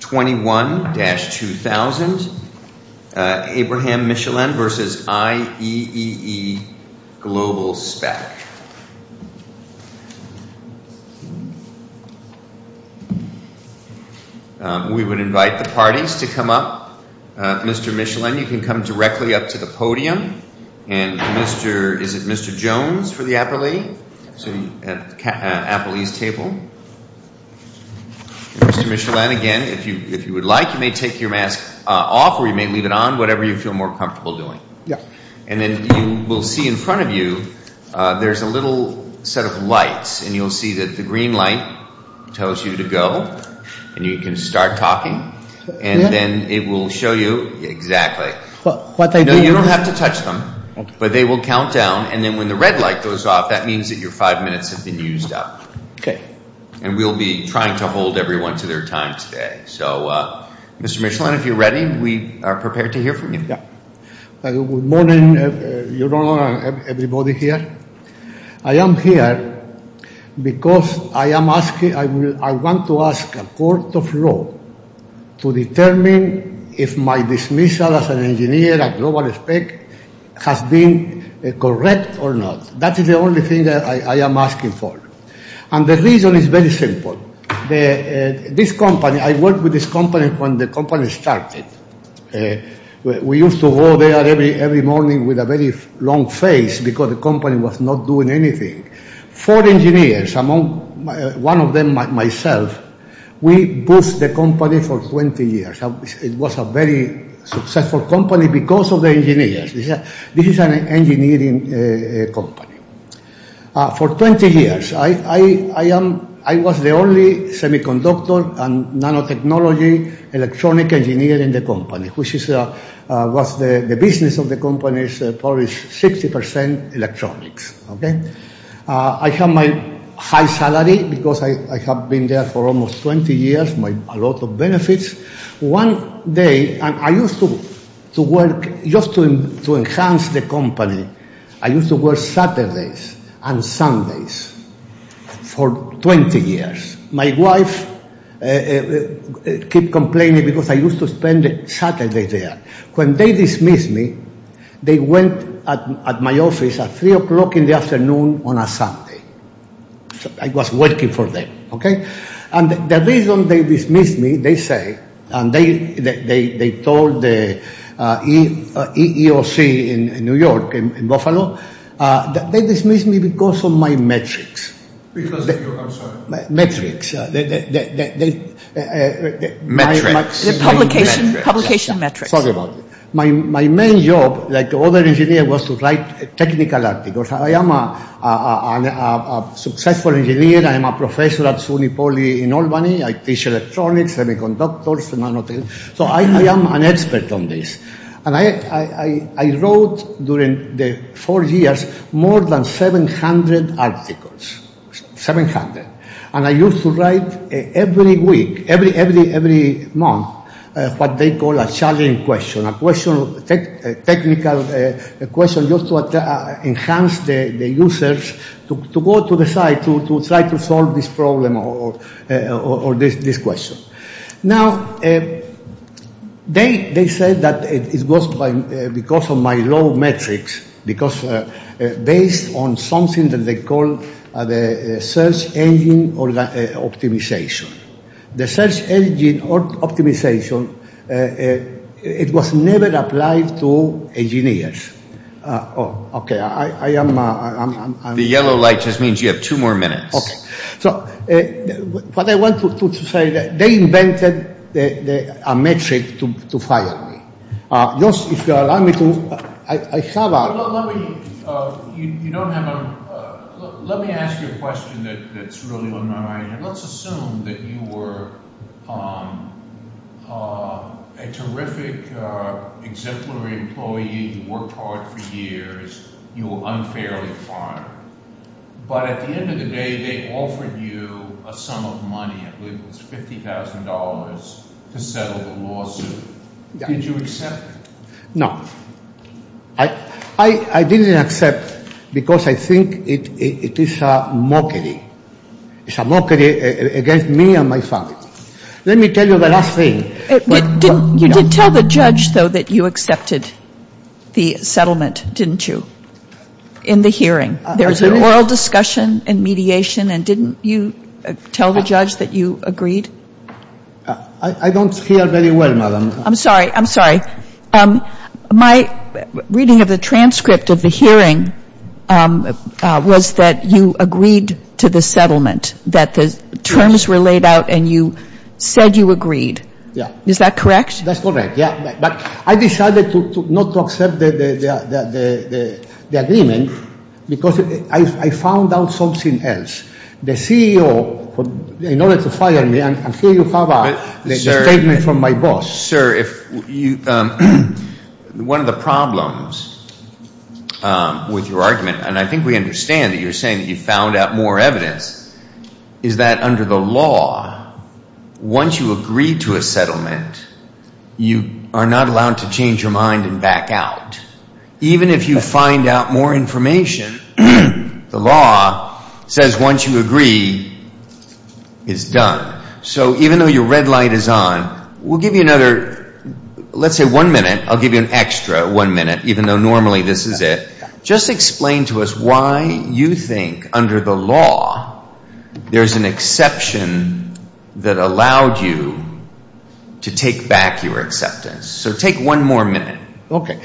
21-2000, Abraham Michelen v. IEEE Globalspec. We would invite the parties to come up. Mr. Michelen, you can come directly up to the podium. And is it Mr. Jones for the appellee? So you have the appellee's table. Mr. Michelen, again, if you would like, you may take your mask off or you may leave it on, whatever you feel more comfortable doing. And then you will see in front of you, there's a little set of lights and you'll see that the green light tells you to go and you can start talking. And then it will show you exactly. No, you don't have to touch them, but they will count down. And then when the red light goes off, that means that your five minutes have been used up. And we'll be trying to hold everyone to their time today. So Mr. Michelen, if you're ready, we are prepared to hear from you. Good morning, everyone here. I am here because I want to ask a court of law to determine if my dismissal as an engineer at GlobalSpec has been correct or not. That is the only thing that I am asking for. And the reason is very simple. This company, I worked with this company when the company started. We used to go there every morning with a very long face because the company was not doing anything. Four engineers, one of them myself, we boosted the company for 20 years. It was a very successful company because of the engineers. This is an engineering company. For 20 years, I was the only semiconductor and nanotechnology electronic engineer in the company, which was the business of the company's 60% electronics. I had my high salary because I have been there for almost 20 years, a lot of benefits. One day, I used to work, just to enhance the company, I used to work Saturdays and Sundays for 20 years. My wife kept complaining because I used to spend Saturdays there. When they dismissed me, they went at my office at 3 o'clock in the afternoon on a Sunday. I was working for them. The reason they dismissed me, they told the EEOC in New York, in Buffalo, they dismissed me because of my metrics. My main job, like other engineers, was to write technical articles. I am a successful engineer. I am a professor at SUNY Poly in Albany. I teach electronics, semiconductors, nanotechnology. I am an expert on this. I wrote, during the four years, more than 700 articles, 700. I used to write every week, every month, what they call a challenging question, a question, a technical question, just to enhance the users to go to the site to try to solve this problem or this question. Now, they said that it was because of my low metrics, because based on something that they call the search engine optimization. The search engine optimization, it was never applied to engineers. Okay, I am... The yellow light just means you have two more minutes. Okay. So, what I want to say, they invented a metric to fire me. Just, if you allow me to, I have a... Let me ask you a question that's really on my mind. Let's assume that you were a terrific exemplary employee, you worked hard for years, you were unfairly fired. But at the end of the day, they offered you a sum of money, I believe it was $50,000, to settle the lawsuit. Did you accept it? No. I didn't accept because I think it is a mockery. It's a mockery against me and my family. Let me tell you the last thing. You did tell the judge, though, that you accepted the settlement, didn't you, in the hearing? There was an oral discussion and mediation, and didn't you tell the judge that you agreed? I don't hear very well, madam. I'm sorry, I'm sorry. My reading of the transcript of the hearing was that you agreed to the settlement, and you said you agreed. Is that correct? That's correct, yeah. But I decided not to accept the agreement because I found out something else. The CEO, in order to fire me, and here you have a statement from my boss. Sir, one of the problems with your argument, and I think we understand that you're saying that you found out more evidence, is that under the law, once you agree to a settlement, you are not allowed to change your mind and back out. Even if you find out more information, the law says once you agree, it's done. So even though your red light is on, we'll give you another, let's say one minute, I'll ask why you think under the law, there's an exception that allowed you to take back your acceptance. So take one more minute. Okay.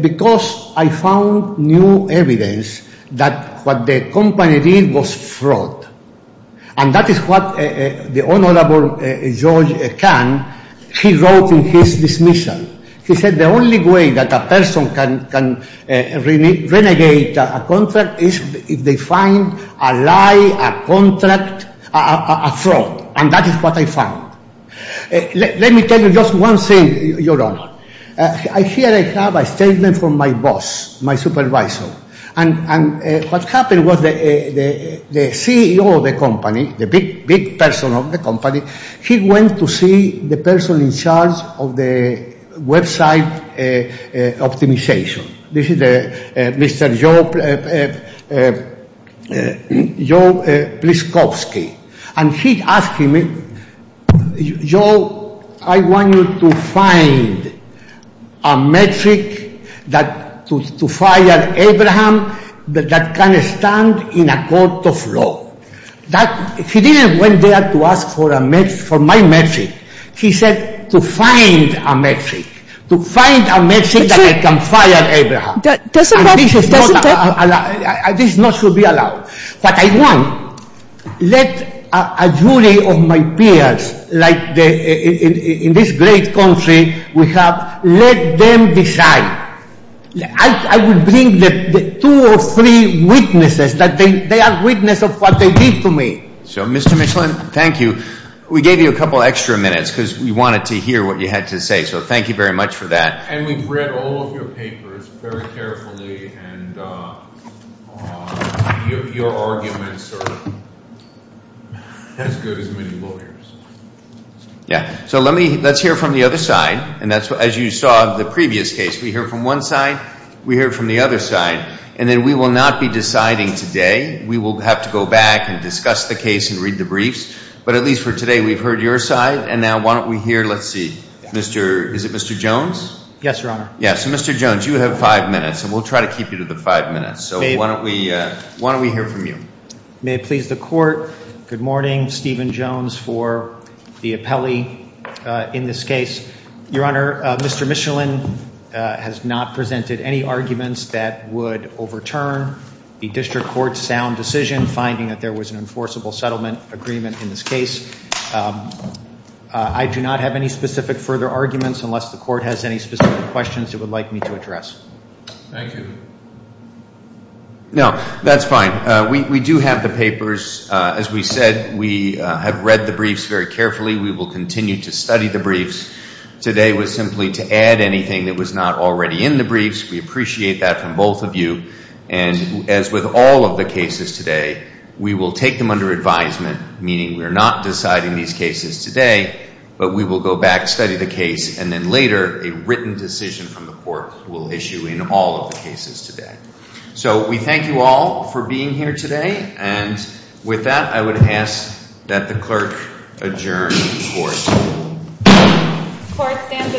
Because I found new evidence that what the company did was fraud. And that is what the Honorable George Kahn, he wrote in his dismissal. He said the only way that a person can renegade a contract is if they find a lie, a contract, a fraud. And that is what I found. Let me tell you just one thing, Your Honor. Here I have a statement from my boss, my supervisor. And what happened was the CEO of the company, the big person of the company, he went to see the person in charge of the website optimization. This is Mr. Joe Pliskovsky. And he asked him, Joe, I want you to find a metric to fire Abraham that can stand in a court of law. He didn't go there to ask for my metric. He said to find a metric, to find a metric that can fire Abraham. This is not to be allowed. What I want, let a jury of my peers, like in this great country, we have let them decide. I will bring two or three witnesses that they are witness of what they did to me. So, Mr. Michelin, thank you. We gave you a couple extra minutes because we wanted to hear what you had to say. So thank you very much for that. And we've read all of your papers very carefully. And your arguments are as good as many lawyers. Yeah. So let's hear from the other side. And as you saw in the previous case, we hear from one side. We hear from the other side. And then we will not be deciding today. We will have to go back and discuss the case and read the briefs. But at least for today, we've heard your side. And now why don't we hear, let's see, is it Mr. Jones? Yes, Your Honor. Yeah. So Mr. Jones, you have five minutes. And we'll try to keep you to the five minutes. So why don't we hear from you? May it please the Court. Good morning. Stephen Jones for the appellee in this case. Your Honor, Mr. Michelin has not presented any arguments that would overturn the district court's sound decision, finding that there was an enforceable settlement agreement in this case. I do not have any specific further arguments unless the Court has any specific questions it would like me to address. Thank you. No, that's fine. We do have the papers. As we said, we have read the briefs very carefully. We will continue to study the briefs. Today was simply to add anything that was not already in the briefs. We appreciate that from both of you. And as with all of the cases today, we will take them under advisement, meaning we are not deciding these cases today, but we will go back, study the case, and then later a written decision from the Court will issue in all of the cases today. So we thank you all for being here today. And with that, I would ask that the Clerk adjourn the Court. The Court stands adjourned.